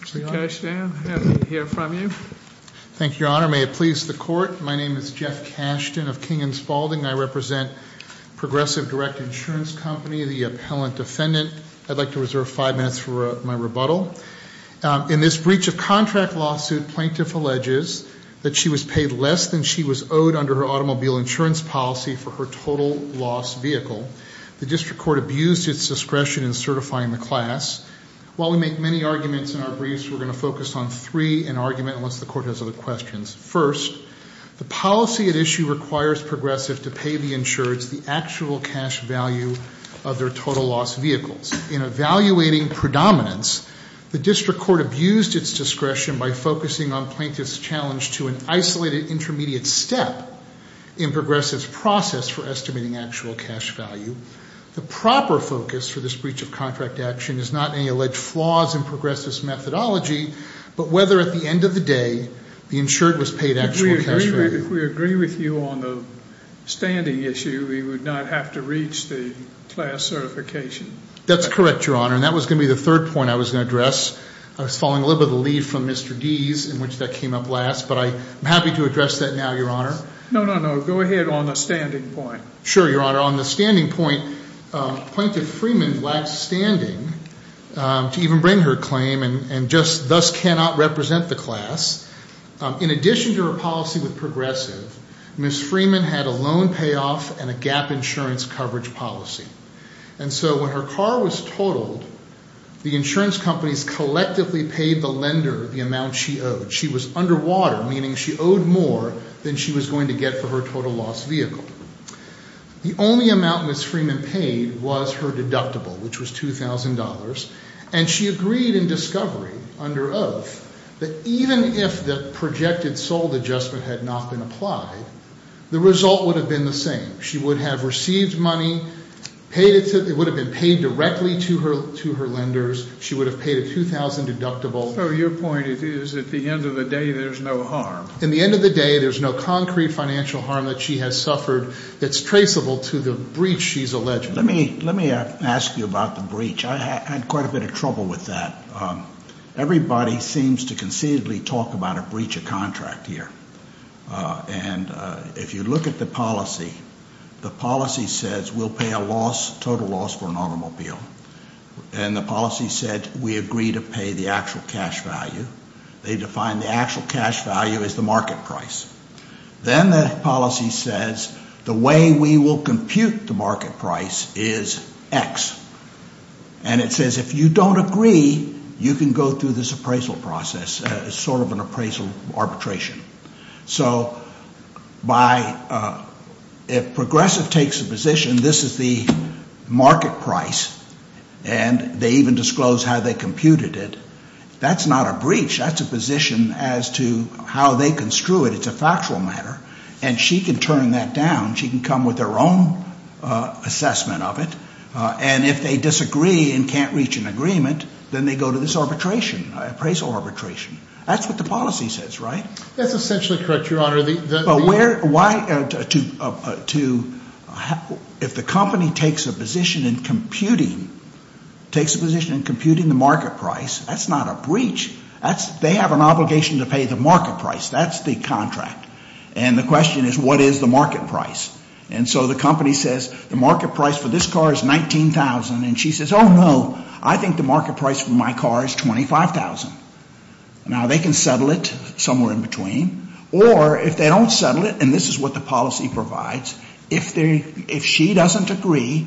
Mr. Kashtan, happy to hear from you. Thank you, Your Honor. May it please the court, my name is Jeff Kashtan of King & Spaulding. I represent Progressive Direct Insurance Company, the appellant defendant. I'd like to reserve five minutes for my rebuttal. In this breach of contract lawsuit, plaintiff alleges that she was paid less than she was owed under her automobile insurance policy for her total-loss vehicle. The district court abused its discretion in certifying the class. While we make many arguments in our briefs, we're going to focus on three in argument, unless the court has other questions. First, the policy at issue requires Progressive to pay the insureds the actual cash value of their total-loss vehicles. In evaluating predominance, the district court abused its discretion by focusing on plaintiff's challenge to an isolated intermediate step in Progressive's process for estimating actual cash value. The proper focus for this breach of contract action is not any alleged flaws in Progressive's methodology, but whether at the end of the day the insured was paid actual cash value. If we agree with you on the standing issue, we would not have to reach the class certification. That's correct, Your Honor, and that was going to be the third point I was going to address. I was following a little bit of the lead from Mr. Deese in which that came up last, but I'm happy to address that now, Your Honor. No, no, no. Go ahead on the standing point. Sure, Your Honor. On the standing point, plaintiff Freeman lacks standing to even bring her claim and just thus cannot represent the class. In addition to her policy with Progressive, Ms. Freeman had a loan payoff and a gap insurance coverage policy, and so when her car was totaled, the insurance companies collectively paid the lender the amount she owed. She was underwater, meaning she owed more than she was going to get for her total-loss vehicle. The only amount Ms. Freeman paid was her deductible, which was $2,000, and she agreed in discovery under oath that even if the projected sold adjustment had not been applied, the result would have been the same. She would have received money, it would have been paid directly to her lenders, she would have paid a $2,000 deductible. So your point is at the end of the day, there's no harm. At the end of the day, there's no concrete financial harm that she has suffered that's traceable to the breach she's alleged. Let me ask you about the breach. I had quite a bit of trouble with that. Everybody seems to conceivably talk about a breach of contract here, and if you look at the policy, the policy says we'll pay a total loss for an automobile, and the policy said we agree to pay the actual cash value. They define the actual cash value as the market price. Then the policy says the way we will compute the market price is X, and it says if you don't agree, you can go through this appraisal process, sort of an appraisal arbitration. So if Progressive takes a position, this is the market price, and they even disclose how they computed it, that's not a breach. That's a position as to how they construe it. It's a factual matter, and she can turn that down. She can come with her own assessment of it, and if they disagree and can't reach an agreement, then they go to this arbitration, appraisal arbitration. That's what the policy says, right? That's essentially correct, Your Honor. But if the company takes a position in computing the market price, that's not a breach. They have an obligation to pay the market price. That's the contract, and the question is what is the market price? And so the company says the market price for this car is $19,000, and she says, oh, no, I think the market price for my car is $25,000. Now, they can settle it somewhere in between, or if they don't settle it, and this is what the policy provides, if she doesn't agree,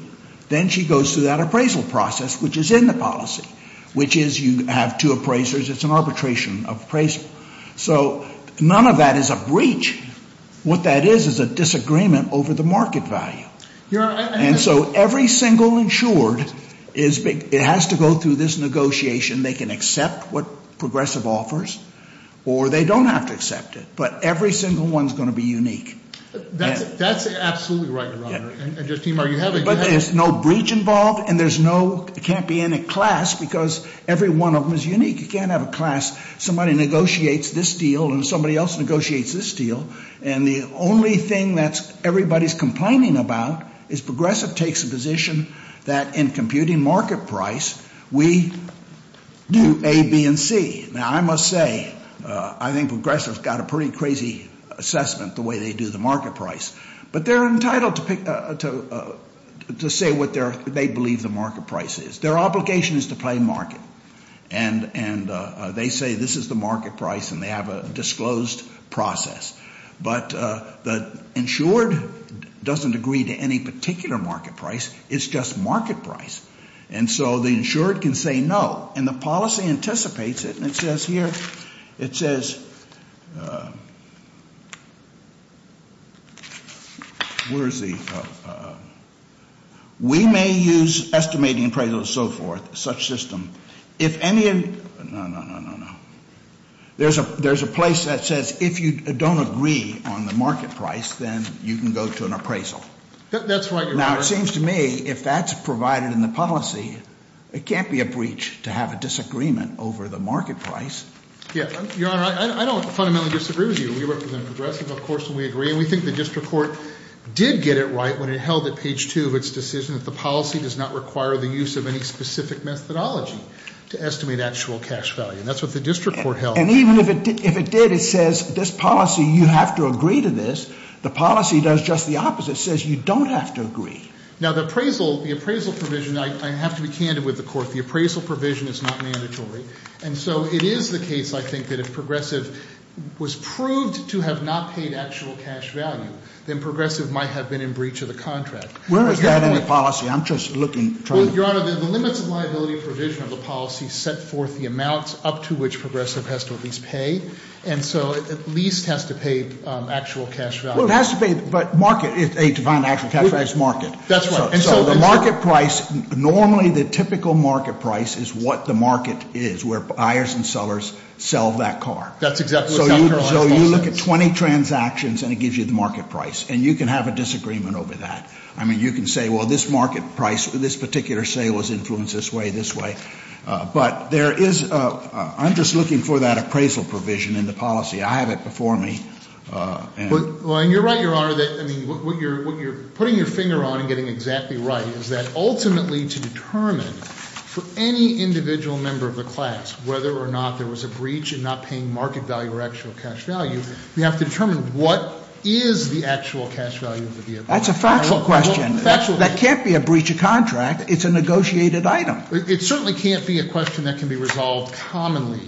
then she goes through that appraisal process, which is in the policy, which is you have two appraisers, it's an arbitration of appraisal. So none of that is a breach. What that is is a disagreement over the market value. And so every single insured, it has to go through this negotiation. They can accept what Progressive offers, or they don't have to accept it, but every single one is going to be unique. That's absolutely right, Your Honor. But there's no breach involved, and there's no, it can't be in a class because every one of them is unique. You can't have a class, somebody negotiates this deal and somebody else negotiates this deal, and the only thing that everybody's complaining about is Progressive takes a position that in computing market price, we do A, B, and C. Now, I must say, I think Progressive's got a pretty crazy assessment the way they do the market price, but they're entitled to say what they believe the market price is. Their obligation is to play market, and they say this is the market price, and they have a disclosed process. But the insured doesn't agree to any particular market price. It's just market price. And so the insured can say no, and the policy anticipates it, and it says here, it says, where's the, we may use estimating appraisal and so forth, such system. If any, no, no, no, no, no. There's a place that says if you don't agree on the market price, then you can go to an appraisal. That's right, Your Honor. Now, it seems to me if that's provided in the policy, it can't be a breach to have a disagreement over the market price. Yeah, Your Honor, I don't fundamentally disagree with you. You represent Progressive, of course, and we agree. And we think the district court did get it right when it held at page 2 of its decision that the policy does not require the use of any specific methodology to estimate actual cash value. And that's what the district court held. And even if it did, it says this policy, you have to agree to this. The policy does just the opposite. It says you don't have to agree. Now, the appraisal provision, I have to be candid with the court. The appraisal provision is not mandatory. And so it is the case, I think, that if Progressive was proved to have not paid actual cash value, then Progressive might have been in breach of the contract. Where is that in the policy? I'm just looking. Your Honor, the limits of liability provision of the policy set forth the amounts up to which Progressive has to at least pay. And so it at least has to pay actual cash value. Well, it has to pay, but market is a defined actual cash price market. That's right. And so the market price, normally the typical market price is what the market is, where buyers and sellers sell that car. That's exactly what Dr. Armstrong says. So you look at 20 transactions and it gives you the market price. And you can have a disagreement over that. I mean, you can say, well, this market price, this particular sale was influenced this way, this way. But there is a, I'm just looking for that appraisal provision in the policy. I have it before me. Well, and you're right, Your Honor, that, I mean, what you're putting your finger on and getting exactly right is that ultimately to determine for any individual member of the class whether or not there was a breach and not paying market value or actual cash value, we have to determine what is the actual cash value of the vehicle. That's a factual question. Factual. That can't be a breach of contract. It's a negotiated item. It certainly can't be a question that can be resolved commonly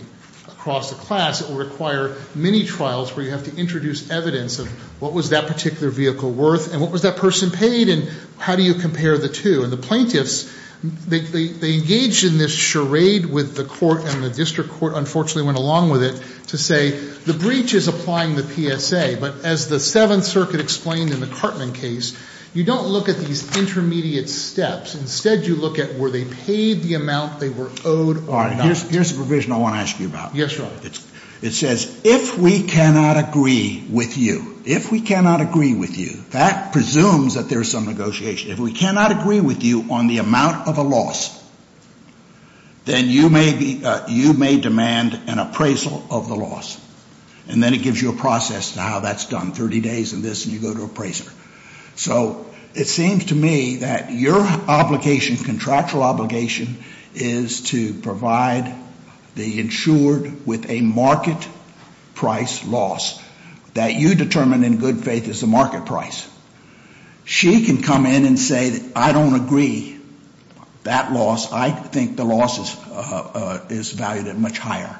across the class. It will require many trials where you have to introduce evidence of what was that particular vehicle worth and what was that person paid and how do you compare the two. And the plaintiffs, they engaged in this charade with the court and the district court, unfortunately, went along with it to say the breach is applying the PSA. But as the Seventh Circuit explained in the Cartman case, you don't look at these intermediate steps. Instead, you look at were they paid the amount they were owed or not. All right. Here's the provision I want to ask you about. Yes, Your Honor. It says if we cannot agree with you, if we cannot agree with you, that presumes that there's some negotiation. If we cannot agree with you on the amount of a loss, then you may demand an appraisal of the loss. And then it gives you a process to how that's done, 30 days and this and you go to appraiser. So it seems to me that your obligation, contractual obligation, is to provide the insured with a market price loss that you determine in good faith is the market price. She can come in and say that I don't agree that loss. I think the loss is valued at much higher.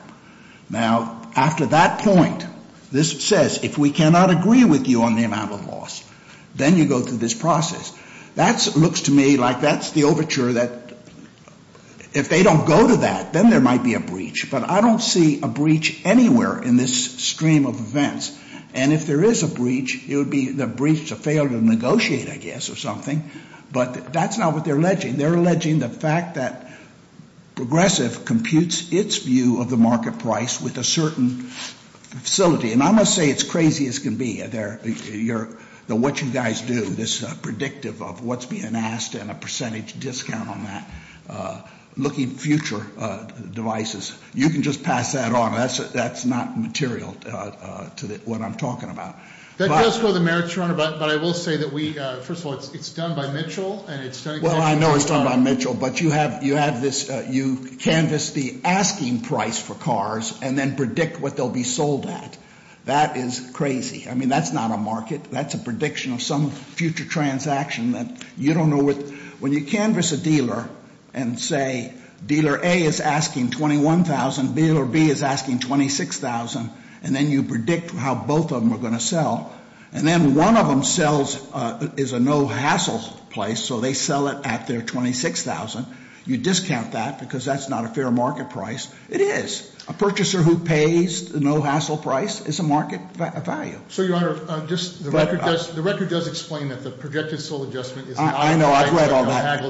Now, after that point, this says if we cannot agree with you on the amount of loss, then you go through this process. That looks to me like that's the overture that if they don't go to that, then there might be a breach. But I don't see a breach anywhere in this stream of events. And if there is a breach, it would be the breach to fail to negotiate, I guess, or something. But that's not what they're alleging. They're alleging the fact that Progressive computes its view of the market price with a certain facility. And I'm going to say it's crazy as can be, what you guys do, this predictive of what's being asked and a percentage discount on that. Looking future devices, you can just pass that on. That's not material to what I'm talking about. That does go to the merits, Your Honor, but I will say that we, first of all, it's done by Mitchell and it's done- Well, I know it's done by Mitchell. But you have this, you canvass the asking price for cars and then predict what they'll be sold at. That is crazy. I mean, that's not a market. That's a prediction of some future transaction that you don't know what. When you canvass a dealer and say dealer A is asking $21,000, dealer B is asking $26,000, and then you predict how both of them are going to sell, and then one of them sells, is a no-hassle place, so they sell it at their $26,000. You discount that because that's not a fair market price. It is. A purchaser who pays the no-hassle price is a market value. So, Your Honor, just the record does explain that the projected sold adjustment is not- I know, I've read all that.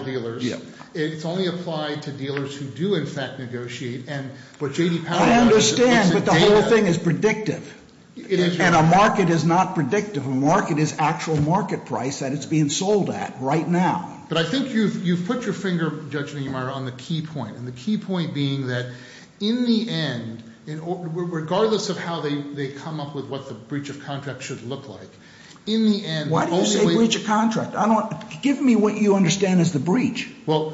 It's only applied to dealers who do, in fact, negotiate. I understand, but the whole thing is predictive. And a market is not predictive. A market is actual market price that it's being sold at right now. But I think you've put your finger, Judge Neumeier, on the key point, and the key point being that in the end, regardless of how they come up with what the breach of contract should look like, in the end- Why do you say breach of contract? Give me what you understand as the breach. Well,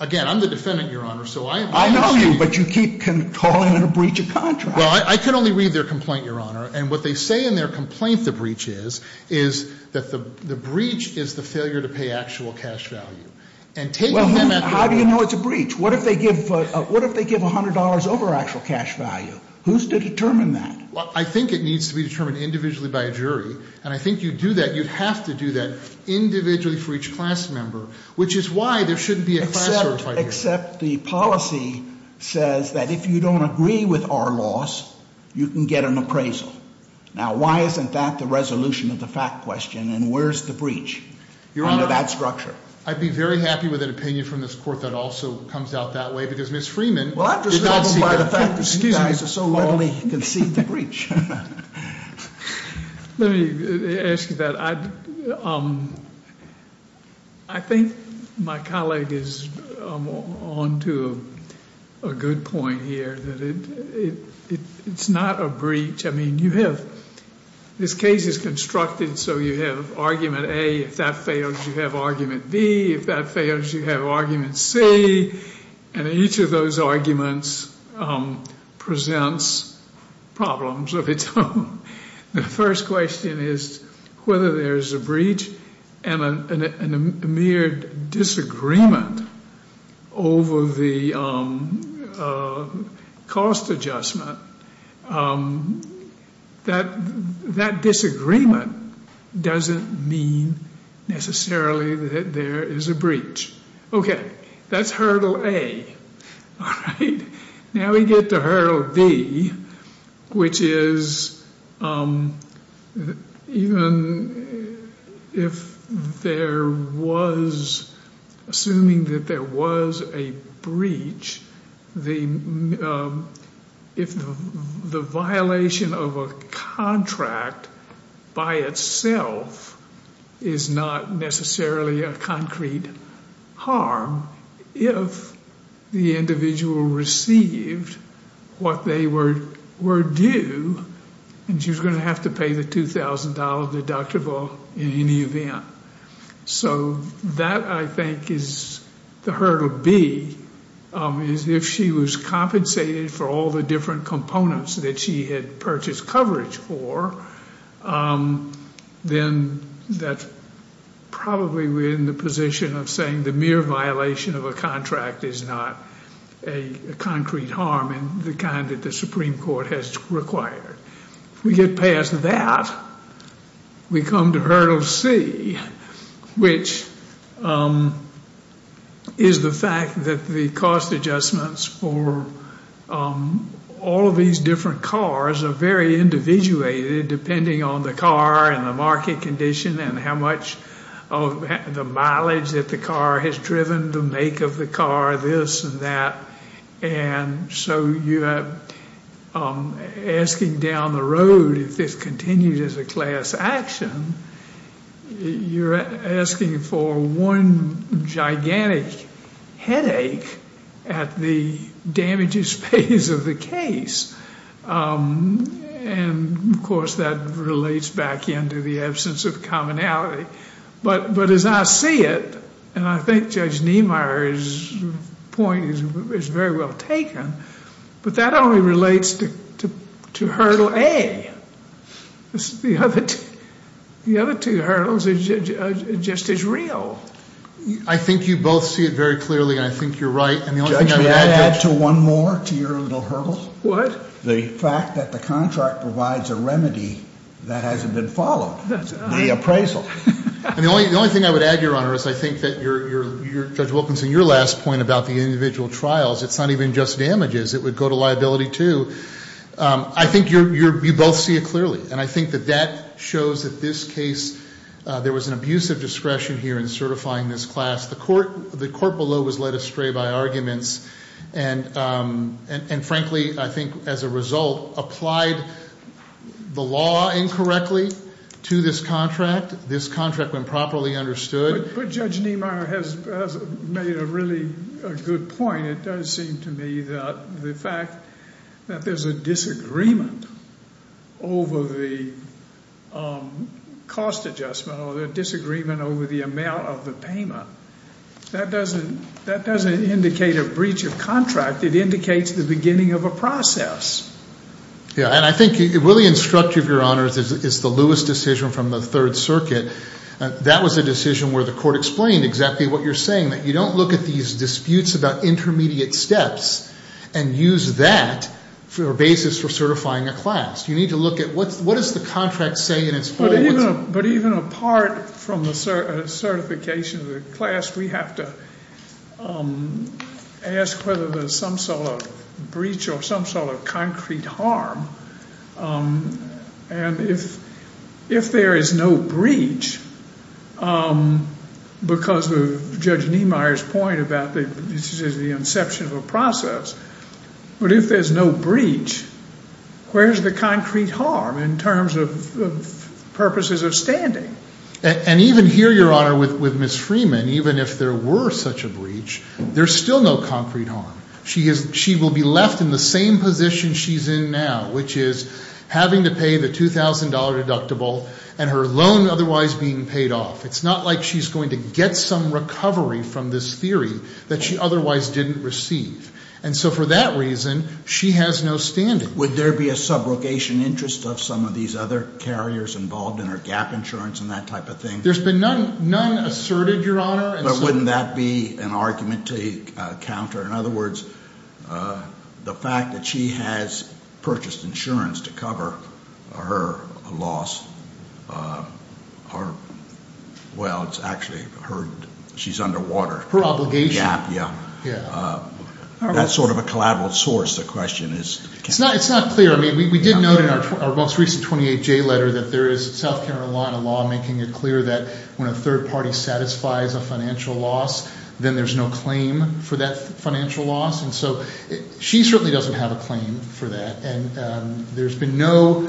again, I'm the defendant, Your Honor, so I am- I know you, but you keep calling it a breach of contract. Well, I can only read their complaint, Your Honor. And what they say in their complaint the breach is, is that the breach is the failure to pay actual cash value. And taking them at- Well, how do you know it's a breach? What if they give $100 over actual cash value? Who's to determine that? Well, I think it needs to be determined individually by a jury. And I think you do that. You'd have to do that individually for each class member, which is why there shouldn't be a class- You can get an appraisal. Now, why isn't that the resolution of the fact question? And where's the breach under that structure? Your Honor, I'd be very happy with an opinion from this Court that also comes out that way, because Ms. Freeman- Well, I'm just- Excuse me. You guys have so readily conceded the breach. Let me ask you that. I think my colleague is on to a good point here, that it's not a breach. I mean, you have- this case is constructed so you have argument A. If that fails, you have argument B. If that fails, you have argument C. And each of those arguments presents problems of its own. The first question is whether there's a breach and a mere disagreement over the cost adjustment. That disagreement doesn't mean necessarily that there is a breach. Okay. That's hurdle A. All right. Now we get to hurdle D, which is even if there was- assuming that there was a breach, the violation of a contract by itself is not necessarily a concrete harm if the individual received what they were due, and she was going to have to pay the $2,000 deductible in any event. So that, I think, is the hurdle B, is if she was compensated for all the different components that she had purchased coverage for, then that's probably within the position of saying the mere violation of a contract is not a concrete harm in the kind that the Supreme Court has required. We get past that, we come to hurdle C, which is the fact that the cost adjustments for all of these different cars are very individuated depending on the car and the market condition and how much of the mileage that the car has driven, the make of the car, this and that. And so you're asking down the road if this continues as a class action, you're asking for one gigantic headache at the damages phase of the case. And, of course, that relates back into the absence of commonality. But as I see it, and I think Judge Niemeyer's point is very well taken, but that only relates to hurdle A. The other two hurdles are just as real. I think you both see it very clearly, and I think you're right. Judge, may I add to one more to your little hurdle? What? The fact that the contract provides a remedy that hasn't been followed, the appraisal. The only thing I would add, Your Honor, is I think that Judge Wilkinson, your last point about the individual trials, it's not even just damages. It would go to liability, too. I think you both see it clearly, and I think that that shows that this case, there was an abuse of discretion here in certifying this class. The court below was led astray by arguments, and, frankly, I think as a result, applied the law incorrectly to this contract. This contract, when properly understood. But Judge Niemeyer has made a really good point. It does seem to me that the fact that there's a disagreement over the cost adjustment or the disagreement over the amount of the payment, that doesn't indicate a breach of contract. It indicates the beginning of a process. Yeah, and I think it really instructs you, Your Honor, is the Lewis decision from the Third Circuit. That was a decision where the court explained exactly what you're saying, that you don't look at these disputes about intermediate steps and use that for a basis for certifying a class. You need to look at what does the contract say in its full. But even apart from the certification of the class, we have to ask whether there's some sort of breach or some sort of concrete harm. And if there is no breach, because of Judge Niemeyer's point about this is the inception of a process, but if there's no breach, where's the concrete harm in terms of purposes of standing? And even here, Your Honor, with Ms. Freeman, even if there were such a breach, there's still no concrete harm. She will be left in the same position she's in now, which is having to pay the $2,000 deductible and her loan otherwise being paid off. It's not like she's going to get some recovery from this theory that she otherwise didn't receive. And so for that reason, she has no standing. Would there be a subrogation interest of some of these other carriers involved in her gap insurance and that type of thing? There's been none asserted, Your Honor. But wouldn't that be an argument to counter? In other words, the fact that she has purchased insurance to cover her loss, well, it's actually her, she's underwater. Her obligation. Yeah, yeah. That's sort of a collateral source, the question is. It's not clear. I mean, we did note in our most recent 28J letter that there is South Carolina law making it clear that when a third party satisfies a financial loss, then there's no claim for that financial loss. And so she certainly doesn't have a claim for that. And there's been no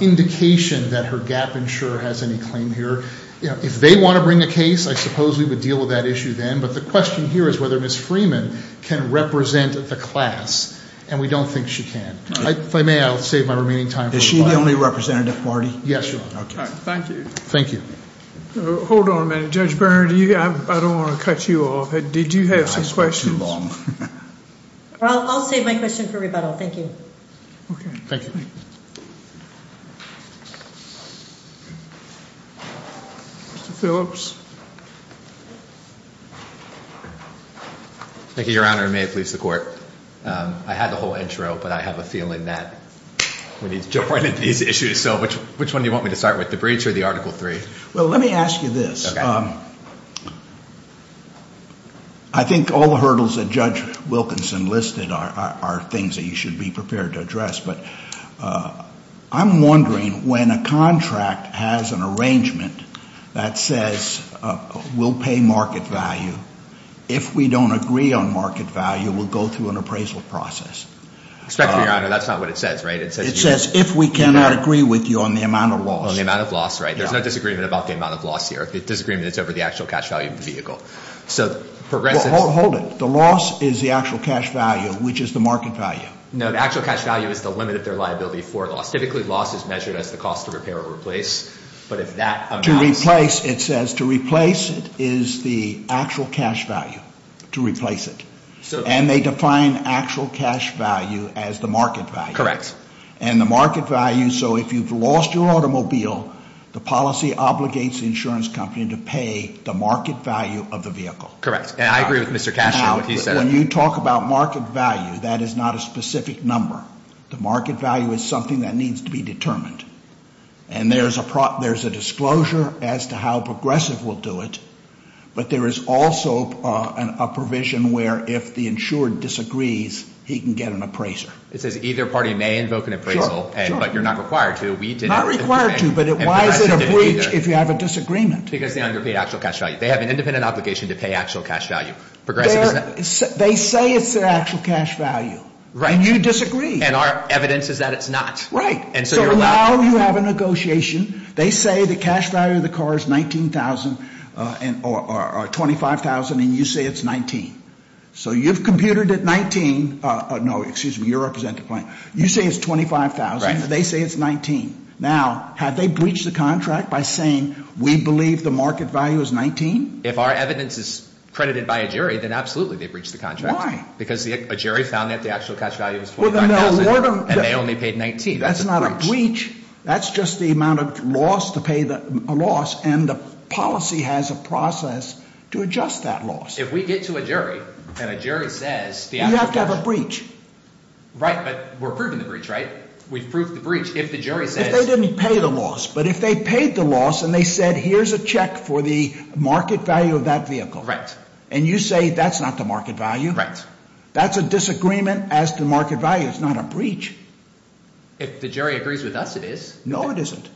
indication that her gap insurer has any claim here. If they want to bring a case, I suppose we would deal with that issue then. But the question here is whether Ms. Freeman can represent the class. And we don't think she can. If I may, I'll save my remaining time. Is she the only representative, Marty? Yes, Your Honor. Thank you. Thank you. Hold on a minute. Judge Berner, I don't want to cut you off. Did you have some questions? I'm too long. I'll save my question for rebuttal. Thank you. Okay. Thank you. Mr. Phillips. Thank you, Your Honor. May it please the Court. I had the whole intro, but I have a feeling that we need to jump right into these issues. So which one do you want me to start with, the breach or the Article III? Well, let me ask you this. Okay. I think all the hurdles that Judge Wilkinson listed are things that you should be prepared to address. But I'm wondering when a contract has an arrangement that says we'll pay market value, if we don't agree on market value, we'll go through an appraisal process. Respectfully, Your Honor, that's not what it says, right? It says if we cannot agree with you on the amount of loss. On the amount of loss, right. There's no disagreement about the amount of loss here. The disagreement is over the actual cash value of the vehicle. Hold it. The loss is the actual cash value, which is the market value. No, the actual cash value is the limit of their liability for loss. Typically, loss is measured as the cost to repair or replace. To replace, it says, to replace it is the actual cash value. To replace it. And they define actual cash value as the market value. Correct. And the market value, so if you've lost your automobile, the policy obligates the insurance company to pay the market value of the vehicle. Correct. And I agree with Mr. Cashier, what he said. Now, when you talk about market value, that is not a specific number. The market value is something that needs to be determined. And there's a disclosure as to how Progressive will do it. But there is also a provision where if the insured disagrees, he can get an appraiser. It says either party may invoke an appraisal, but you're not required to. Not required to, but why is it a breach if you have a disagreement? Because they underpay actual cash value. They have an independent obligation to pay actual cash value. They say it's their actual cash value, and you disagree. And our evidence is that it's not. Right. So now you have a negotiation. They say the cash value of the car is $19,000 or $25,000, and you say it's $19,000. So you've computed it $19,000. No, excuse me. You're representing the plaintiff. You say it's $25,000. Right. They say it's $19,000. Now, have they breached the contract by saying we believe the market value is $19,000? If our evidence is credited by a jury, then absolutely they breached the contract. Why? Because a jury found that the actual cash value is $25,000, and they only paid $19,000. That's not a breach. That's not a breach. That's just the amount of loss to pay the loss, and the policy has a process to adjust that loss. If we get to a jury, and a jury says the actual cash – You have to have a breach. Right, but we're proving the breach, right? We've proved the breach. If the jury says – If they didn't pay the loss, but if they paid the loss, and they said here's a check for the market value of that vehicle. Right. And you say that's not the market value. Right. That's a disagreement as to market value. It's not a breach. If the jury agrees with us, it is. No, it isn't.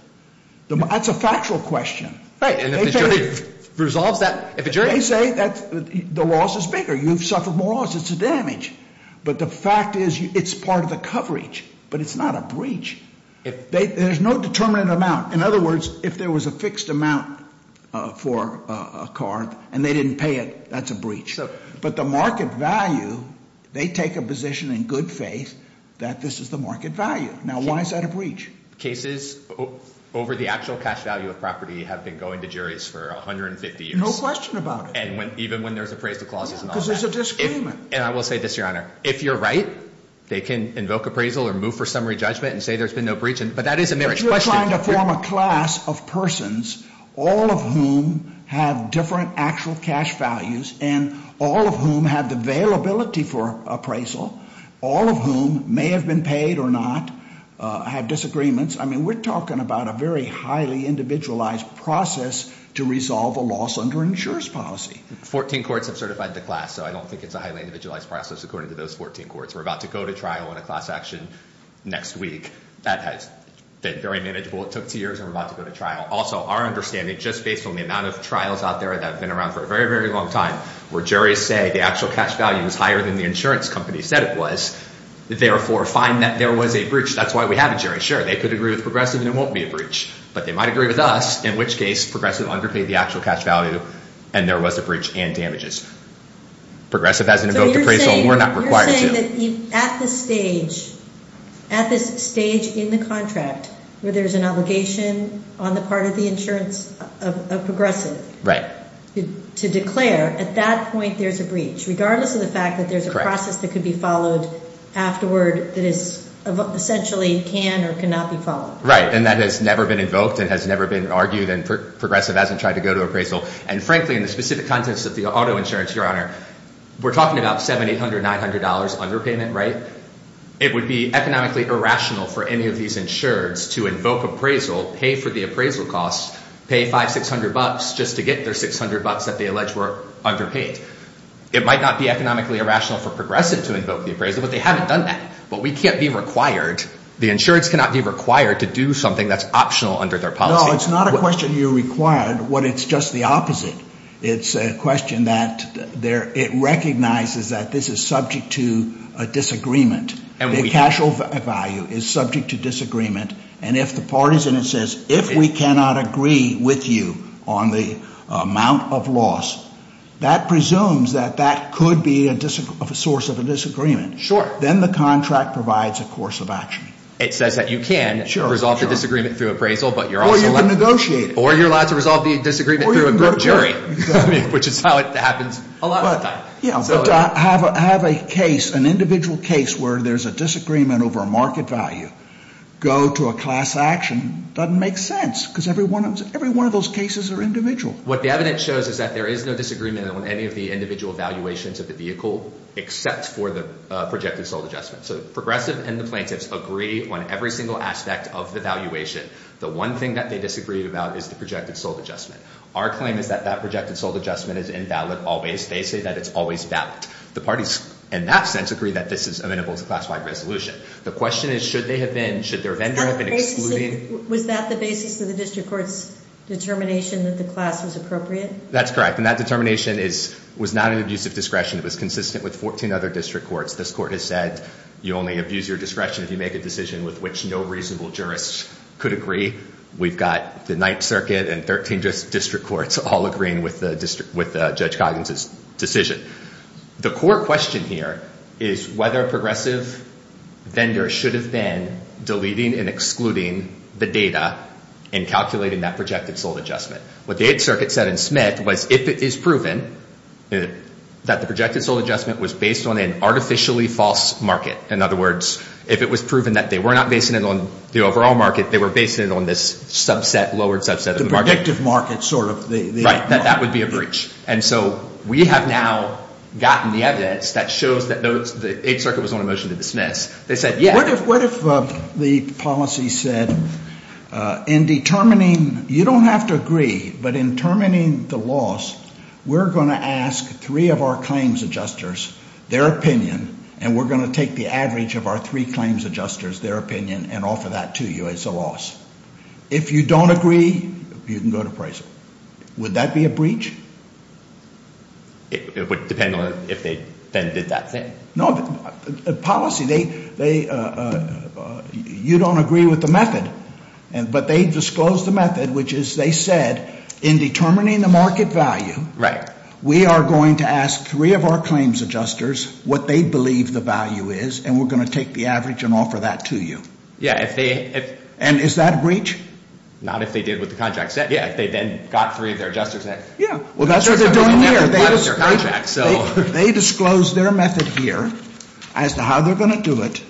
That's a factual question. Right, and if the jury resolves that – They say the loss is bigger. You've suffered more loss. It's a damage. But the fact is it's part of the coverage, but it's not a breach. There's no determinate amount. In other words, if there was a fixed amount for a car, and they didn't pay it, that's a breach. But the market value, they take a position in good faith that this is the market value. Now, why is that a breach? Cases over the actual cash value of property have been going to juries for 150 years. No question about it. Even when there's appraisal clauses and all that. Because there's a disagreement. And I will say this, Your Honor. If you're right, they can invoke appraisal or move for summary judgment and say there's been no breach. But that is a marriage question. But you're trying to form a class of persons, all of whom have different actual cash values and all of whom have the availability for appraisal, all of whom may have been paid or not, have disagreements. I mean, we're talking about a very highly individualized process to resolve a loss under insurance policy. Fourteen courts have certified the class, so I don't think it's a highly individualized process, according to those 14 courts. We're about to go to trial on a class action next week. That has been very manageable. It took two years, and we're about to go to trial. Also, our understanding, just based on the amount of trials out there that have been around for a very, very long time, where juries say the actual cash value is higher than the insurance company said it was, therefore find that there was a breach. That's why we have a jury. They could agree with Progressive and it won't be a breach. But they might agree with us, in which case Progressive underpaid the actual cash value and there was a breach and damages. Progressive hasn't invoked appraisal, and we're not required to. So you're saying that at this stage in the contract where there's an obligation on the part of the insurance of Progressive to declare, at that point there's a breach, regardless of the fact that there's a process that could be followed afterward that is essentially can or cannot be followed. Right, and that has never been invoked and has never been argued, and Progressive hasn't tried to go to appraisal. And frankly, in the specific context of the auto insurance, Your Honor, we're talking about $700, $900 underpayment, right? It would be economically irrational for any of these insureds to invoke appraisal, pay for the appraisal costs, pay $500, $600 just to get their $600 that they allege were underpaid. It might not be economically irrational for Progressive to invoke the appraisal, but they haven't done that. But we can't be required, the insureds cannot be required to do something that's optional under their policy. No, it's not a question you're required. What it's just the opposite. It's a question that it recognizes that this is subject to a disagreement. The actual value is subject to disagreement. And if the parties in it says, if we cannot agree with you on the amount of loss, that presumes that that could be a source of a disagreement. Sure. Then the contract provides a course of action. It says that you can resolve the disagreement through appraisal, but you're also allowed to. Or you can negotiate it. Or you're allowed to resolve the disagreement through a jury, which is how it happens a lot of times. Yeah, but to have a case, an individual case where there's a disagreement over a market value, go to a class action, doesn't make sense. Because every one of those cases are individual. What the evidence shows is that there is no disagreement on any of the individual valuations of the vehicle, except for the projected sold adjustment. So Progressive and the plaintiffs agree on every single aspect of the valuation. The one thing that they disagreed about is the projected sold adjustment. Our claim is that that projected sold adjustment is invalid always. They say that it's always valid. The parties, in that sense, agree that this is amenable to class-wide resolution. The question is, should their vendor have been excluding? Was that the basis of the district court's determination that the class was appropriate? That's correct. And that determination was not an abuse of discretion. It was consistent with 14 other district courts. This court has said, you only abuse your discretion if you make a decision with which no reasonable jurists could agree. We've got the Ninth Circuit and 13 district courts all agreeing with Judge Coggins' decision. The core question here is whether a Progressive vendor should have been deleting and excluding the data and calculating that projected sold adjustment. What the Eighth Circuit said in Smith was, if it is proven that the projected sold adjustment was based on an artificially false market, in other words, if it was proven that they were not basing it on the overall market, they were basing it on this subset, lowered subset of the market. The predictive market, sort of. Right, that that would be a breach. And so we have now gotten the evidence that shows that the Eighth Circuit was on a motion to dismiss. They said, yeah. What if the policy said, in determining, you don't have to agree, but in determining the loss, we're going to ask three of our claims adjusters their opinion, and we're going to take the average of our three claims adjusters, their opinion, and offer that to you as a loss. If you don't agree, you can go to appraisal. Would that be a breach? It would depend on if they then did that thing. No, the policy, they, you don't agree with the method, but they disclosed the method, which is, they said, in determining the market value, we are going to ask three of our claims adjusters what they believe the value is, and we're going to take the average and offer that to you. Yeah, if they. And is that a breach? Not if they did what the contract said. Yeah, if they then got three of their adjusters. Yeah, well, that's what they're doing here. They disclosed their method here as to how they're going to do it.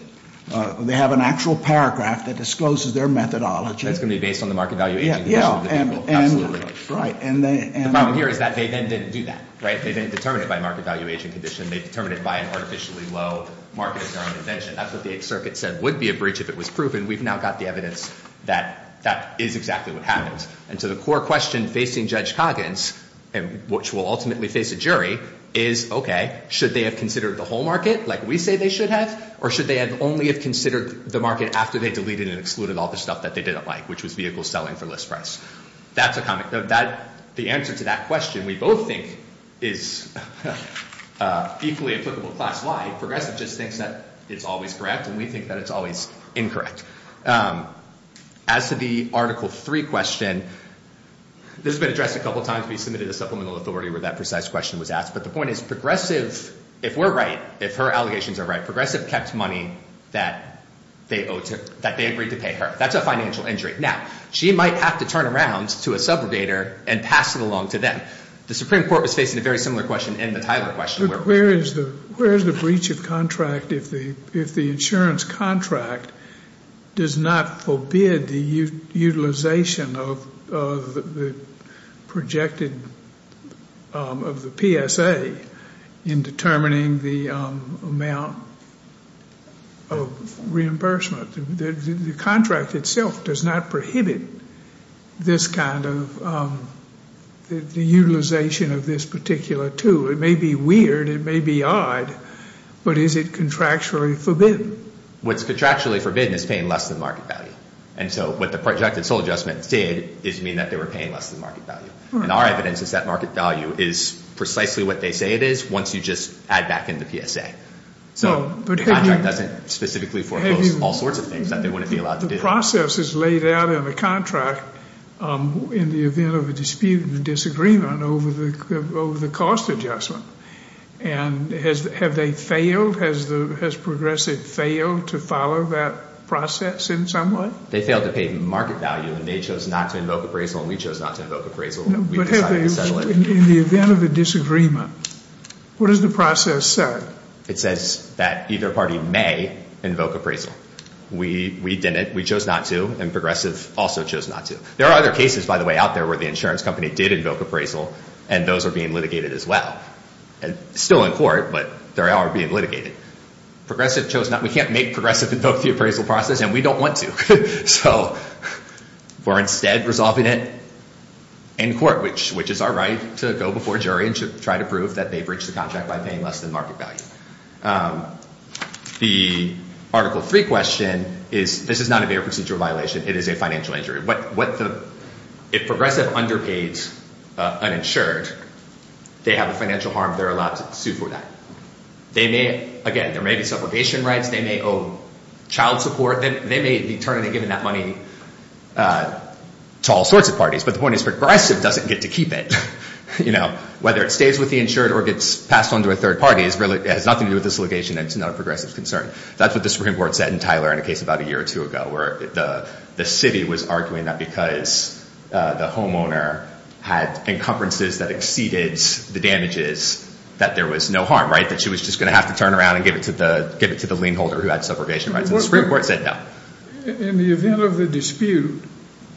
They have an actual paragraph that discloses their methodology. That's going to be based on the market value aging condition. Yeah, absolutely. Right. The problem here is that they then didn't do that, right? They didn't determine it by market value aging condition. They determined it by an artificially low market-determined invention. That's what the Eighth Circuit said would be a breach if it was proven. We've now got the evidence that that is exactly what happened. And so the core question facing Judge Coggins, which will ultimately face a jury, is, okay, should they have considered the whole market like we say they should have, or should they only have considered the market after they deleted and excluded all the stuff that they didn't like, which was vehicle selling for list price? That's a comment. The answer to that question we both think is equally applicable class-wide. Progressive just thinks that it's always correct, and we think that it's always incorrect. As to the Article III question, this has been addressed a couple of times. We submitted a supplemental authority where that precise question was asked. But the point is Progressive, if we're right, if her allegations are right, Progressive kept money that they agreed to pay her. That's a financial injury. Now, she might have to turn around to a subrogator and pass it along to them. The Supreme Court was facing a very similar question in the Tyler question. Where is the breach of contract if the insurance contract does not forbid the utilization of the projected, of the PSA in determining the amount of reimbursement? The contract itself does not prohibit this kind of utilization of this particular tool. It may be weird. It may be odd. But is it contractually forbidden? What's contractually forbidden is paying less than market value. And so what the projected sole adjustment did is mean that they were paying less than market value. And our evidence is that market value is precisely what they say it is once you just add back in the PSA. So the contract doesn't specifically foreclose all sorts of things that they wouldn't be allowed to do. The process is laid out in the contract in the event of a dispute and a disagreement over the cost adjustment. And have they failed? Has Progressive failed to follow that process in some way? They failed to pay market value, and they chose not to invoke appraisal, and we chose not to invoke appraisal. We decided to settle it. In the event of a disagreement, what does the process say? It says that either party may invoke appraisal. We didn't. We chose not to, and Progressive also chose not to. There are other cases, by the way, out there where the insurance company did invoke appraisal, and those are being litigated as well. Still in court, but they are being litigated. Progressive chose not. We can't make Progressive invoke the appraisal process, and we don't want to. So we're instead resolving it in court, which is our right to go before a jury and try to prove that they breached the contract by paying less than market value. The Article 3 question is, this is not a mere procedural violation. It is a financial injury. If Progressive underpays an insured, they have a financial harm. They're allowed to sue for that. Again, there may be suffocation rights. They may owe child support. They may be turning and giving that money to all sorts of parties, but the point is Progressive doesn't get to keep it. Whether it stays with the insured or gets passed on to a third party has nothing to do with this litigation and it's not a Progressive's concern. That's what the Supreme Court said in Tyler in a case about a year or two ago where the city was arguing that because the homeowner had encumbrances that exceeded the damages that there was no harm, right, that she was just going to have to turn around and give it to the lien holder who had suffocation rights. And the Supreme Court said no. In the event of the dispute,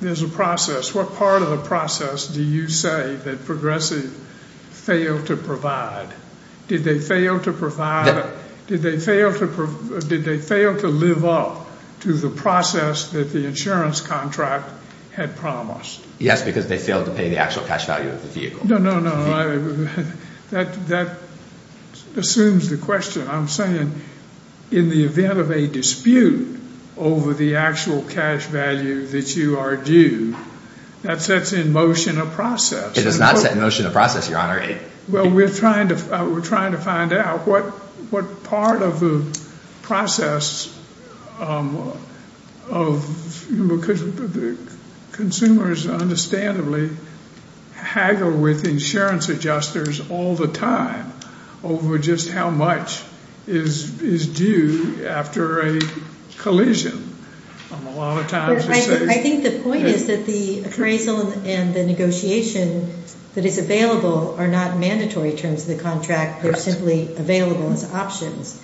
there's a process. What part of the process do you say that Progressive failed to provide? Did they fail to live up to the process that the insurance contract had promised? Yes, because they failed to pay the actual cash value of the vehicle. No, no, no. That assumes the question. I'm saying in the event of a dispute over the actual cash value that you are due, that sets in motion a process. It does not set in motion a process, Your Honor. Well, we're trying to find out what part of the process of consumers, understandably, haggle with insurance adjusters all the time over just how much is due after a collision. I think the point is that the appraisal and the negotiation that is available are not mandatory in terms of the contract. They're simply available as options.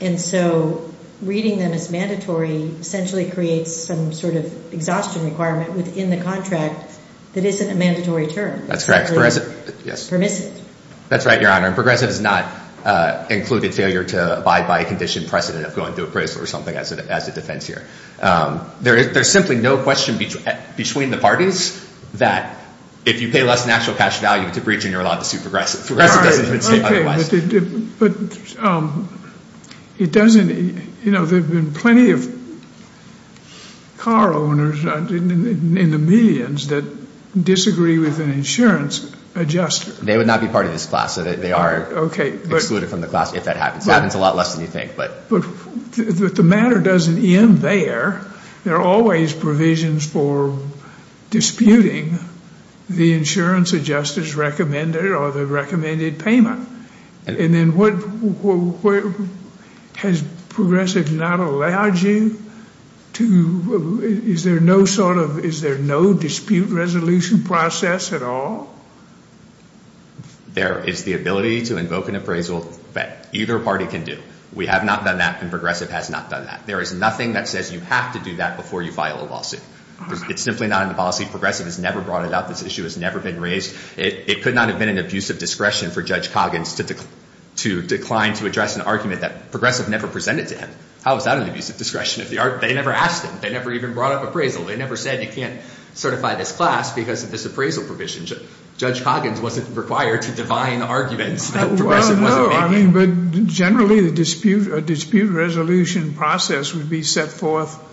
And so reading them as mandatory essentially creates some sort of exhaustion requirement within the contract that isn't a mandatory term. That's correct. Permissive. That's right, Your Honor. And Progressive has not included failure to abide by a condition precedent of going through appraisal or something as a defense here. There's simply no question between the parties that if you pay less than actual cash value to breach and you're allowed to sue Progressive, Progressive doesn't even say otherwise. But there have been plenty of car owners in the millions that disagree with an insurance adjuster. They would not be part of this class. They are excluded from the class if that happens. It happens a lot less than you think. But the matter doesn't end there. There are always provisions for disputing the insurance adjuster's recommended or the recommended payment. And then has Progressive not allowed you to, is there no sort of, is there no dispute resolution process at all? There is the ability to invoke an appraisal that either party can do. We have not done that and Progressive has not done that. There is nothing that says you have to do that before you file a lawsuit. It's simply not in the policy. Progressive has never brought it up. This issue has never been raised. It could not have been an abuse of discretion for Judge Coggins to decline to address an argument that Progressive never presented to him. How is that an abuse of discretion? They never asked him. They never even brought up appraisal. They never said you can't certify this class because of this appraisal provision. Judge Coggins wasn't required to define arguments that Progressive wasn't making. But generally the dispute resolution process would be set forth,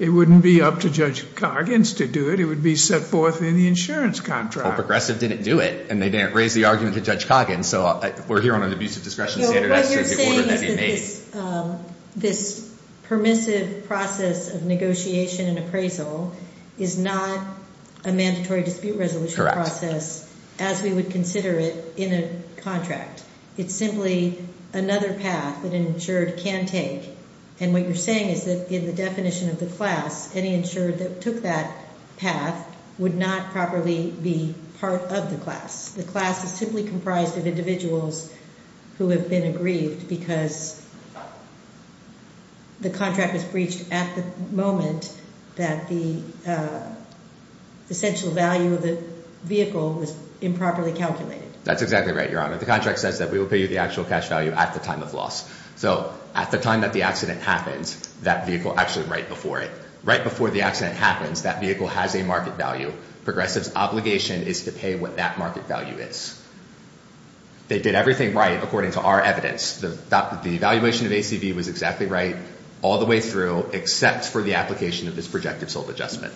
it wouldn't be up to Judge Coggins to do it. It would be set forth in the insurance contract. Well, Progressive didn't do it and they didn't raise the argument to Judge Coggins. So we're here on an abuse of discretion standard. What you're saying is that this permissive process of negotiation and appraisal is not a mandatory dispute resolution process as we would consider it in a contract. It's simply another path that an insured can take. And what you're saying is that in the definition of the class, any insured that took that path would not properly be part of the class. The class is simply comprised of individuals who have been aggrieved because the contract was breached at the moment that the essential value of the vehicle was improperly calculated. That's exactly right, Your Honor. The contract says that we will pay you the actual cash value at the time of loss. So at the time that the accident happens, that vehicle actually right before it. Right before the accident happens, that vehicle has a market value. Progressive's obligation is to pay what that market value is. They did everything right according to our evidence. The evaluation of ACV was exactly right all the way through except for the application of this projective sold adjustment.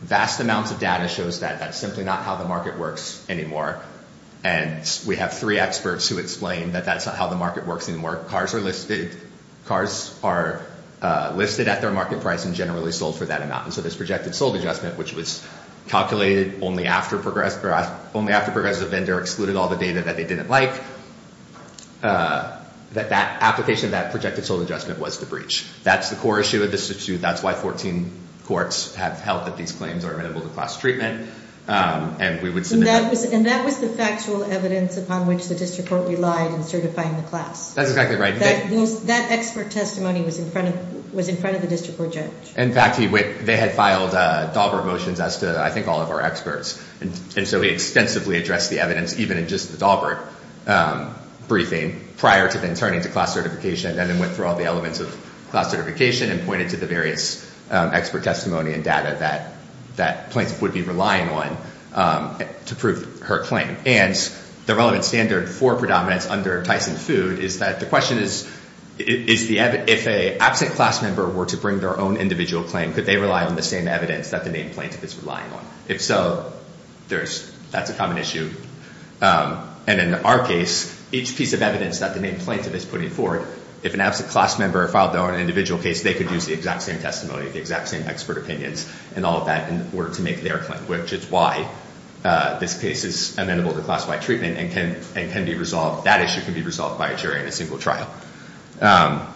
Vast amounts of data shows that that's simply not how the market works anymore. And we have three experts who explain that that's not how the market works anymore. Cars are listed at their market price and generally sold for that amount. And so this projective sold adjustment, which was calculated only after Progressive Vendor excluded all the data that they didn't like, that application of that projective sold adjustment was the breach. That's the core issue of this suit. That's why 14 courts have held that these claims are amenable to class treatment. And that was the factual evidence upon which the district court relied in certifying the class. That's exactly right. That expert testimony was in front of the district court judge. In fact, they had filed Dahlberg motions as to, I think, all of our experts. And so we extensively addressed the evidence even in just the Dahlberg briefing prior to then turning to class certification and then went through all the elements of class certification and pointed to the various expert testimony and data that plaintiff would be relying on to prove her claim. And the relevant standard for predominance under Tyson Food is that the question is, if an absent class member were to bring their own individual claim, could they rely on the same evidence that the main plaintiff is relying on? If so, that's a common issue. And in our case, each piece of evidence that the main plaintiff is putting forward, if an absent class member filed their own individual case, they could use the exact same testimony, the exact same expert opinions, and all of that in order to make their claim, which is why this case is amenable to classified treatment and can be resolved. That issue can be resolved by a jury in a single trial. I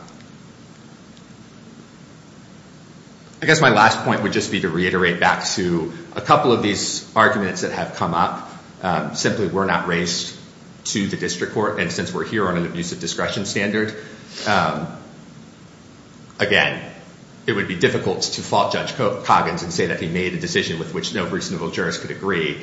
guess my last point would just be to reiterate back to a couple of these arguments that have come up. If a defendant simply were not raised to the district court, and since we're here on an abusive discretion standard, again, it would be difficult to fault Judge Coggins and say that he made a decision with which no reasonable jurist could agree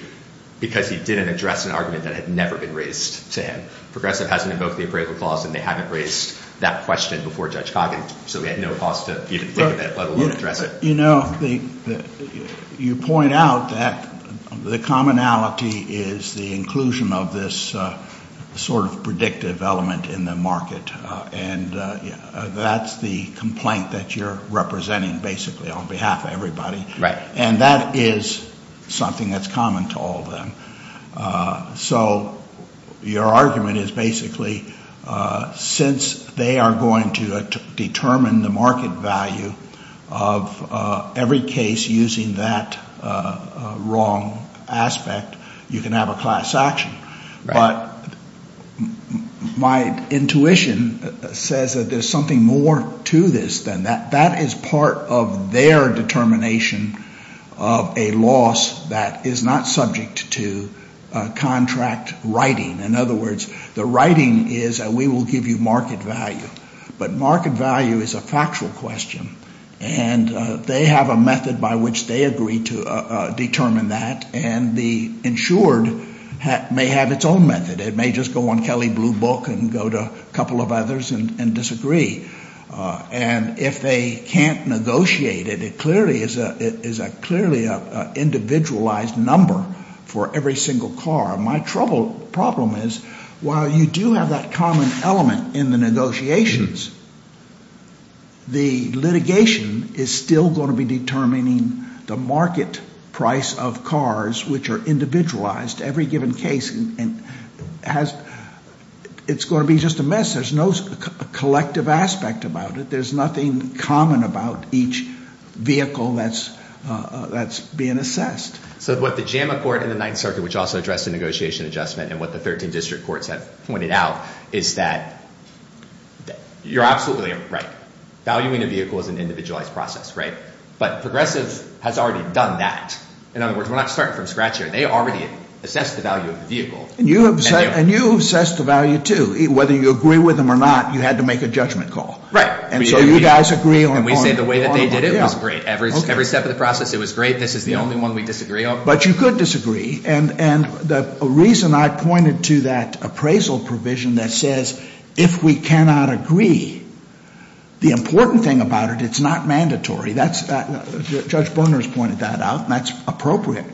because he didn't address an argument that had never been raised to him. Progressive hasn't invoked the appraisal clause, and they haven't raised that question before Judge Coggins, so we have no cause to even think of it, let alone address it. You know, you point out that the commonality is the inclusion of this sort of predictive element in the market, and that's the complaint that you're representing basically on behalf of everybody. Right. And that is something that's common to all of them. So your argument is basically since they are going to determine the market value of every case using that wrong aspect, you can have a class action. Right. But my intuition says that there's something more to this than that. That is part of their determination of a loss that is not subject to contract writing. In other words, the writing is that we will give you market value. But market value is a factual question, and they have a method by which they agree to determine that, and the insured may have its own method. It may just go on Kelly Blue Book and go to a couple of others and disagree. And if they can't negotiate it, it clearly is an individualized number for every single car. My trouble problem is while you do have that common element in the negotiations, the litigation is still going to be determining the market price of cars which are individualized. Every given case, it's going to be just a mess. There's no collective aspect about it. There's nothing common about each vehicle that's being assessed. So what the JAMA court in the Ninth Circuit, which also addressed the negotiation adjustment, and what the 13 district courts have pointed out is that you're absolutely right. Valuing a vehicle is an individualized process. Right. But Progressive has already done that. In other words, we're not starting from scratch here. They already assessed the value of the vehicle. And you assessed the value, too. Whether you agree with them or not, you had to make a judgment call. Right. And so you guys agree on all of them. And we say the way that they did it was great. Every step of the process, it was great. This is the only one we disagree on. But you could disagree. And the reason I pointed to that appraisal provision that says if we cannot agree, the important thing about it, it's not mandatory. Judge Boehner has pointed that out, and that's appropriate.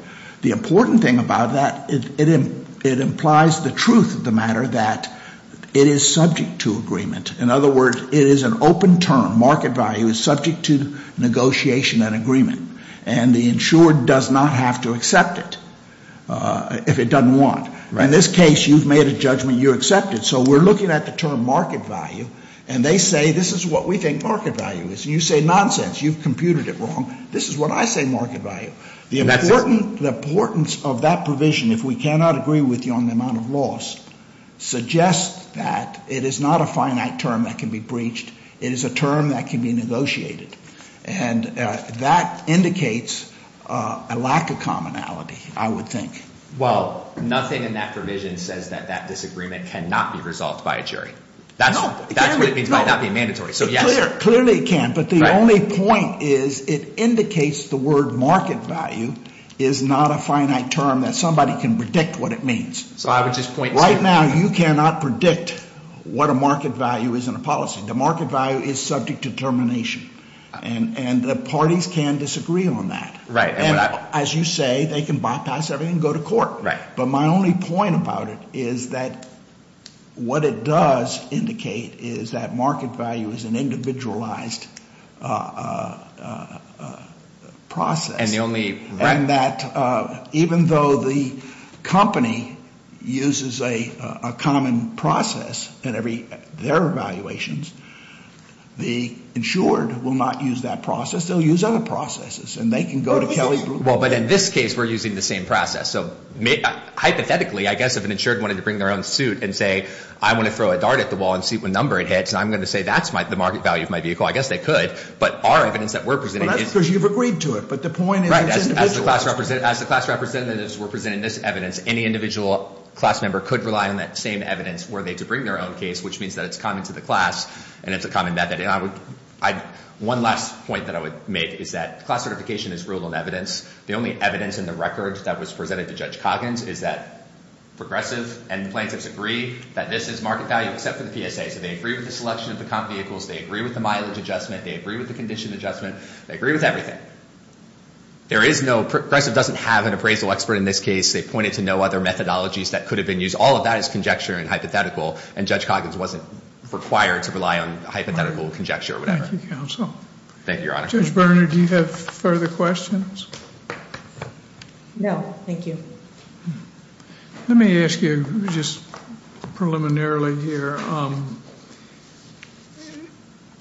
The important thing about that, it implies the truth of the matter that it is subject to agreement. In other words, it is an open term. Market value is subject to negotiation and agreement. And the insured does not have to accept it if it doesn't want. Right. In this case, you've made a judgment. You accept it. So we're looking at the term market value, and they say this is what we think market value is. You say nonsense. You've computed it wrong. This is what I say market value. The importance of that provision, if we cannot agree with you on the amount of loss, suggests that it is not a finite term that can be breached. It is a term that can be negotiated. And that indicates a lack of commonality, I would think. Well, nothing in that provision says that that disagreement cannot be resolved by a jury. No. That's what it means by not being mandatory. So yes. Clearly it can. But the only point is it indicates the word market value is not a finite term that somebody can predict what it means. So I would just point to it. Right now you cannot predict what a market value is in a policy. The market value is subject to determination. And the parties can disagree on that. Right. And as you say, they can bypass everything and go to court. Right. But my only point about it is that what it does indicate is that market value is an individualized process. And the only – And that even though the company uses a common process in every – their evaluations, the insured will not use that process. They'll use other processes. And they can go to Kelley – Well, but in this case we're using the same process. So hypothetically, I guess if an insured wanted to bring their own suit and say, I want to throw a dart at the wall and see what number it hits, and I'm going to say that's the market value of my vehicle, I guess they could. But our evidence that we're presenting is – Well, that's because you've agreed to it. But the point is it's individualized. As the class representatives were presenting this evidence, any individual class member could rely on that same evidence were they to bring their own case, which means that it's common to the class and it's a common method. And I would – one last point that I would make is that class certification is ruled on evidence. The only evidence in the record that was presented to Judge Coggins is that Progressive and plaintiffs agree that this is market value except for the PSA. So they agree with the selection of the comp vehicles. They agree with the mileage adjustment. They agree with the condition adjustment. They agree with everything. There is no – Progressive doesn't have an appraisal expert in this case. They pointed to no other methodologies that could have been used. All of that is conjecture and hypothetical, and Judge Coggins wasn't required to rely on hypothetical conjecture or whatever. Thank you, counsel. Thank you, Your Honor. Judge Berner, do you have further questions? No, thank you. Let me ask you just preliminarily here.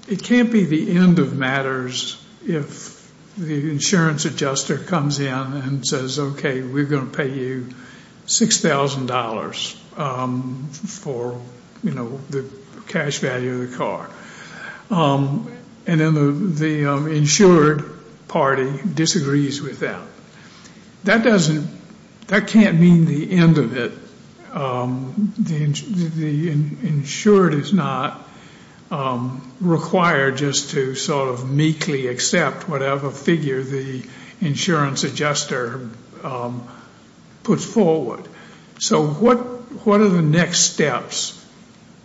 It can't be the end of matters if the insurance adjuster comes in and says, okay, we're going to pay you $6,000 for, you know, the cash value of the car. And then the insured party disagrees with that. That doesn't – that can't mean the end of it. The insured is not required just to sort of meekly accept whatever figure the insurance adjuster puts forward. So what are the next steps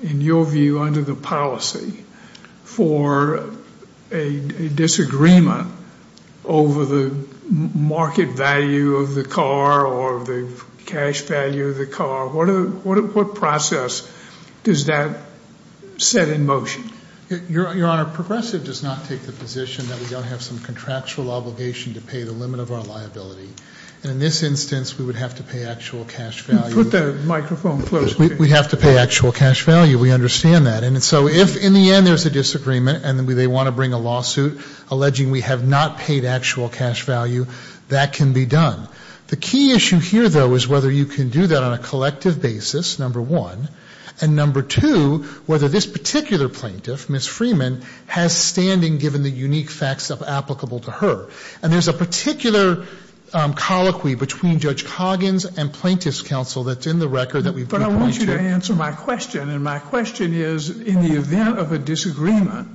in your view under the policy for a disagreement over the market value of the car or the cash value of the car? What process does that set in motion? Your Honor, Progressive does not take the position that we don't have some contractual obligation to pay the limit of our liability. And in this instance, we would have to pay actual cash value. Put the microphone closer. We have to pay actual cash value. We understand that. And so if in the end there's a disagreement and they want to bring a lawsuit alleging we have not paid actual cash value, that can be done. The key issue here, though, is whether you can do that on a collective basis, number one, and number two, whether this particular plaintiff, Ms. Freeman, has standing given the unique facts applicable to her. And there's a particular colloquy between Judge Coggins and Plaintiff's Counsel that's in the record that we've been pointing to. But I want you to answer my question. And my question is, in the event of a disagreement,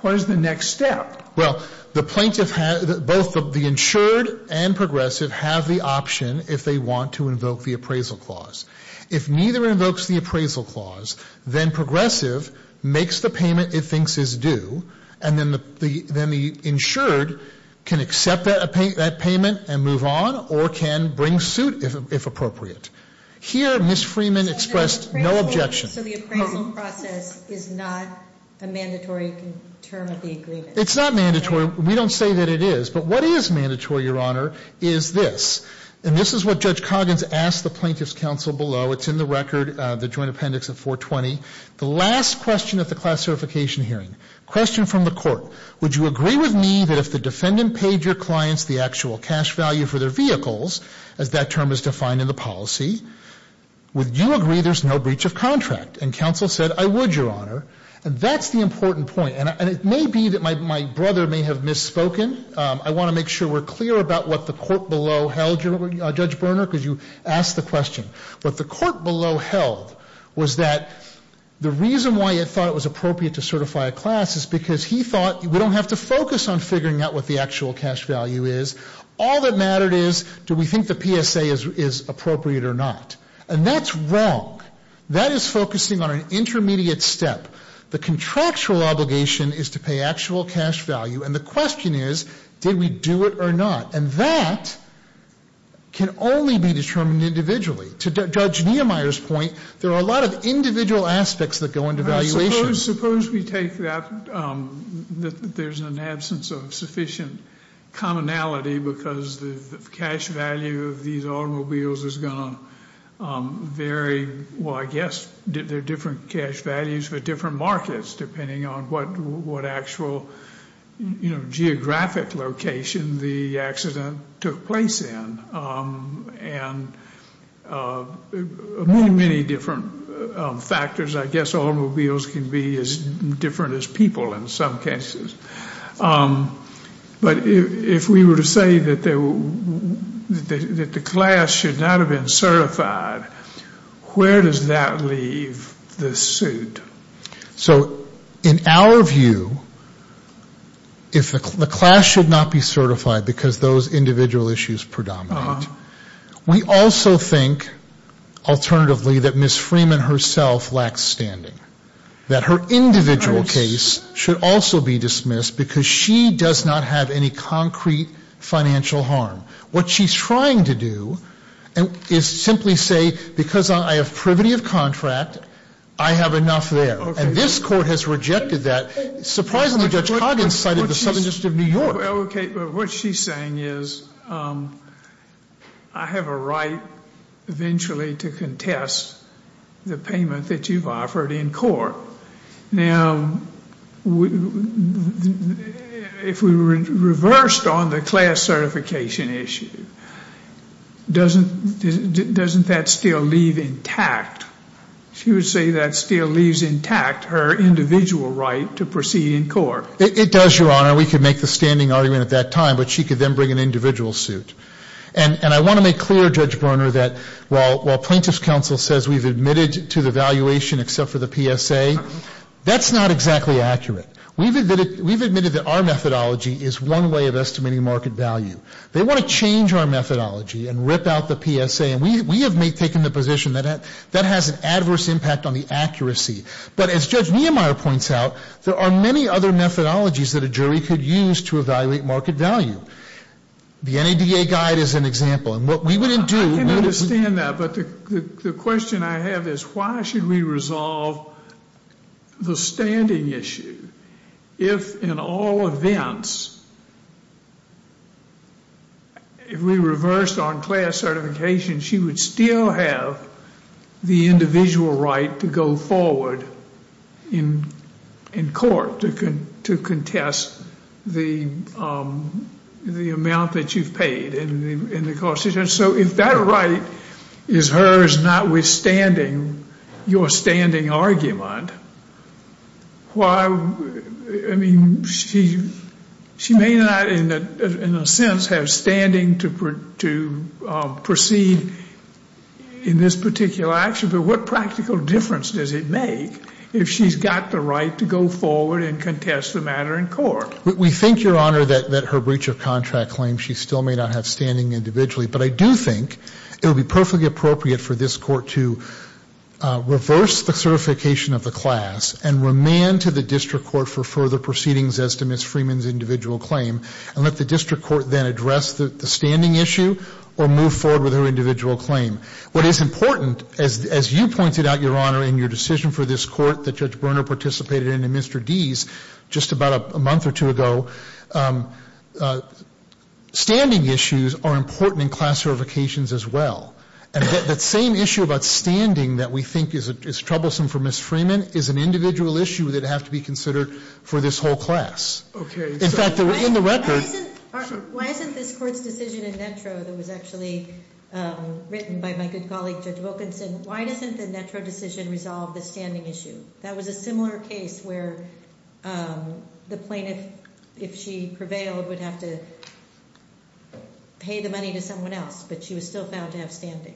what is the next step? Well, the plaintiff has the – both the insured and Progressive have the option if they want to invoke the appraisal clause. If neither invokes the appraisal clause, then Progressive makes the payment it thinks is due, and then the insured can accept that payment and move on or can bring suit if appropriate. Here, Ms. Freeman expressed no objection. So the appraisal process is not a mandatory term of the agreement? It's not mandatory. We don't say that it is. But what is mandatory, Your Honor, is this. And this is what Judge Coggins asked the Plaintiff's Counsel below. It's in the record, the joint appendix at 420. The last question at the class certification hearing, question from the court, would you agree with me that if the defendant paid your clients the actual cash value for their vehicles, as that term is defined in the policy, would you agree there's no breach of contract? And counsel said, I would, Your Honor. And that's the important point. And it may be that my brother may have misspoken. I want to make sure we're clear about what the court below held, Judge Berner, because you asked the question. What the court below held was that the reason why it thought it was appropriate to certify a class is because he thought we don't have to focus on figuring out what the actual cash value is. All that mattered is, do we think the PSA is appropriate or not? And that's wrong. That is focusing on an intermediate step. The contractual obligation is to pay actual cash value. And the question is, did we do it or not? And that can only be determined individually. To Judge Niemeyer's point, there are a lot of individual aspects that go into valuation. Suppose we take that, that there's an absence of sufficient commonality because the cash value of these automobiles is going to vary. Well, I guess there are different cash values for different markets, depending on what actual geographic location the accident took place in. And many, many different factors. I guess automobiles can be as different as people in some cases. But if we were to say that the class should not have been certified, where does that leave the suit? So in our view, if the class should not be certified because those individual issues predominate, we also think, alternatively, that Ms. Freeman herself lacks standing. That her individual case should also be dismissed because she does not have any concrete financial harm. What she's trying to do is simply say, because I have privity of contract, I have enough there. And this court has rejected that. Surprisingly, Judge Coggins cited the Southern District of New York. Okay, but what she's saying is I have a right eventually to contest the payment that you've offered in court. Now, if we reversed on the class certification issue, doesn't that still leave intact? She would say that still leaves intact her individual right to proceed in court. It does, Your Honor. We could make the standing argument at that time, but she could then bring an individual suit. And I want to make clear, Judge Berner, that while plaintiff's counsel says we've admitted to the valuation except for the PSA, that's not exactly accurate. We've admitted that our methodology is one way of estimating market value. They want to change our methodology and rip out the PSA. And we have taken the position that that has an adverse impact on the accuracy. But as Judge Niemeyer points out, there are many other methodologies that a jury could use to evaluate market value. The NADA guide is an example. I can understand that, but the question I have is why should we resolve the standing issue if in all events, if we reversed on class certification, she would still have the individual right to go forward in court to contest the amount that you've paid. So if that right is hers notwithstanding your standing argument, why, I mean, she may not in a sense have standing to proceed in this particular action, but what practical difference does it make if she's got the right to go forward and contest the matter in court? We think, Your Honor, that her breach of contract claim, she still may not have standing individually, but I do think it would be perfectly appropriate for this court to reverse the certification of the class and remand to the district court for further proceedings as to Ms. Freeman's individual claim and let the district court then address the standing issue or move forward with her individual claim. What is important, as you pointed out, Your Honor, in your decision for this court that Judge Berner participated in and Mr. Deese, just about a month or two ago, standing issues are important in class certifications as well. And that same issue about standing that we think is troublesome for Ms. Freeman is an individual issue that would have to be considered for this whole class. In fact, in the record- Why isn't this court's decision in NETRO that was actually written by my good colleague, Judge Wilkinson, why doesn't the NETRO decision resolve the standing issue? That was a similar case where the plaintiff, if she prevailed, would have to pay the money to someone else, but she was still found to have standing.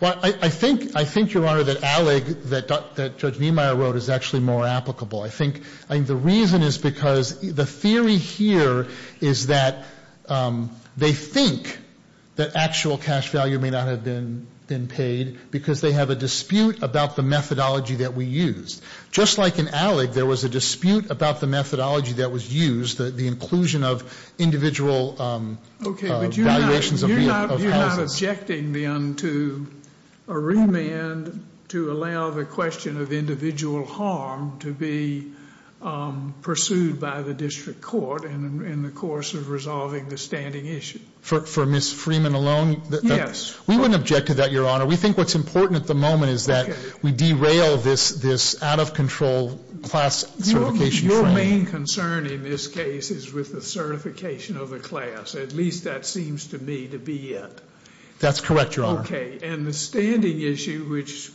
Well, I think, Your Honor, that ALEG that Judge Niemeyer wrote is actually more applicable. I think the reason is because the theory here is that they think that actual cash value may not have been paid because they have a dispute about the methodology that we used. Just like in ALEG, there was a dispute about the methodology that was used, the inclusion of individual valuations of houses. Okay, but you're not objecting then to a remand to allow the question of individual harm to be pursued by the district court in the course of resolving the standing issue. For Ms. Freeman alone? Yes. We wouldn't object to that, Your Honor. We think what's important at the moment is that we derail this out-of-control class certification frame. Your main concern in this case is with the certification of the class. At least that seems to me to be it. That's correct, Your Honor. Okay. And the standing issue, which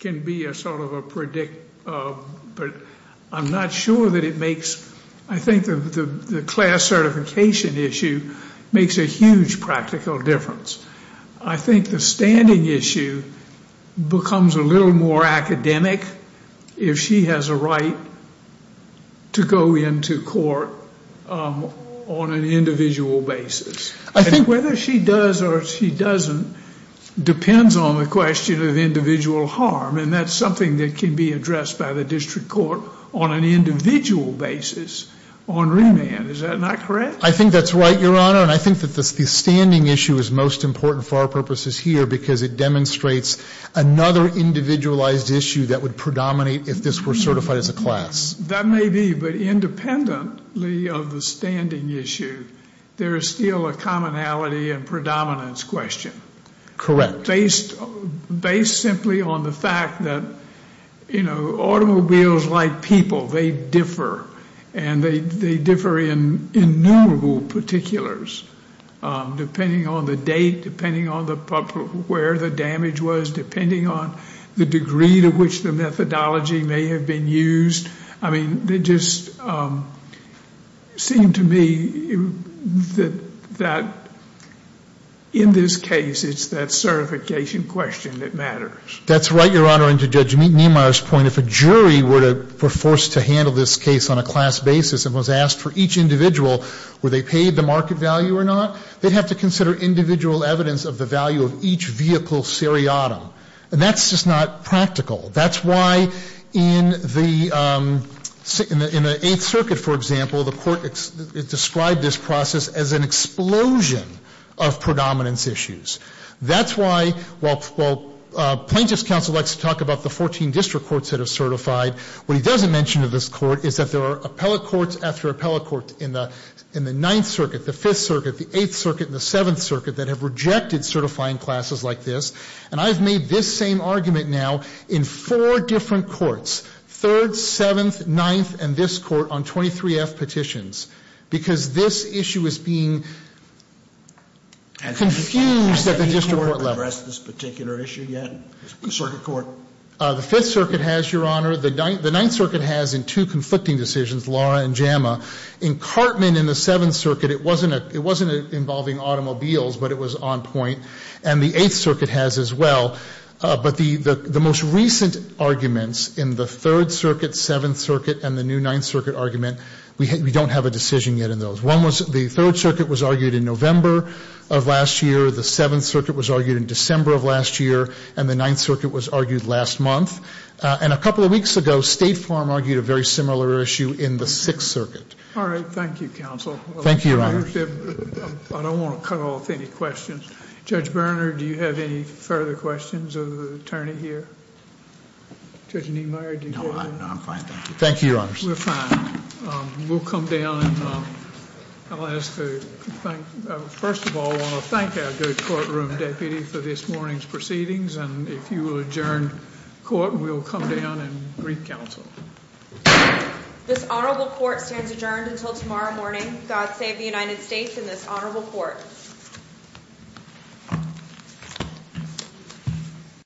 can be a sort of a predict, but I'm not sure that it makes, I think the class certification issue makes a huge practical difference. I think the standing issue becomes a little more academic if she has a right to go into court on an individual basis. I think whether she does or she doesn't depends on the question of individual harm, and that's something that can be addressed by the district court on an individual basis on remand. Is that not correct? I think that's right, Your Honor. And I think that the standing issue is most important for our purposes here because it demonstrates another individualized issue that would predominate if this were certified as a class. That may be, but independently of the standing issue, there is still a commonality and predominance question. Correct. Based simply on the fact that, you know, automobiles like people, they differ, and they differ in innumerable particulars depending on the date, depending on where the damage was, depending on the degree to which the methodology may have been used. I mean, it just seemed to me that in this case, it's that certification question that matters. That's right, Your Honor. And to Judge Niemeyer's point, if a jury were forced to handle this case on a class basis and was asked for each individual, were they paid the market value or not, they'd have to consider individual evidence of the value of each vehicle seriatim. And that's just not practical. That's why in the Eighth Circuit, for example, the Court described this process as an explosion of predominance issues. That's why while Plaintiff's Counsel likes to talk about the 14 district courts that are certified, what he doesn't mention to this Court is that there are appellate courts after appellate court in the Ninth Circuit, the Fifth Circuit, the Eighth Circuit, and the Seventh Circuit that have rejected certifying classes like this. And I've made this same argument now in four different courts, Third, Seventh, Ninth, and this Court on 23F petitions, because this issue is being confused at the district court level. Has any court addressed this particular issue yet, the Circuit Court? The Fifth Circuit has, Your Honor. The Ninth Circuit has in two conflicting decisions, Laura and JAMA. In Cartman in the Seventh Circuit, it wasn't involving automobiles, but it was on point. And the Eighth Circuit has as well. But the most recent arguments in the Third Circuit, Seventh Circuit, and the new Ninth Circuit argument, we don't have a decision yet in those. One was the Third Circuit was argued in November of last year. The Seventh Circuit was argued in December of last year. And the Ninth Circuit was argued last month. And a couple of weeks ago, State Farm argued a very similar issue in the Sixth Circuit. All right. Thank you, counsel. Thank you, Your Honor. I don't want to cut off any questions. Judge Berner, do you have any further questions of the attorney here? Judge Niemeyer, do you want to? No, I'm fine. Thank you, Your Honor. We're fine. We'll come down and I'll ask to thank, first of all, I want to thank our good courtroom deputy for this morning's proceedings. And if you will adjourn court, we'll come down and brief counsel. This honorable court stands adjourned until tomorrow morning. God save the United States and this honorable court.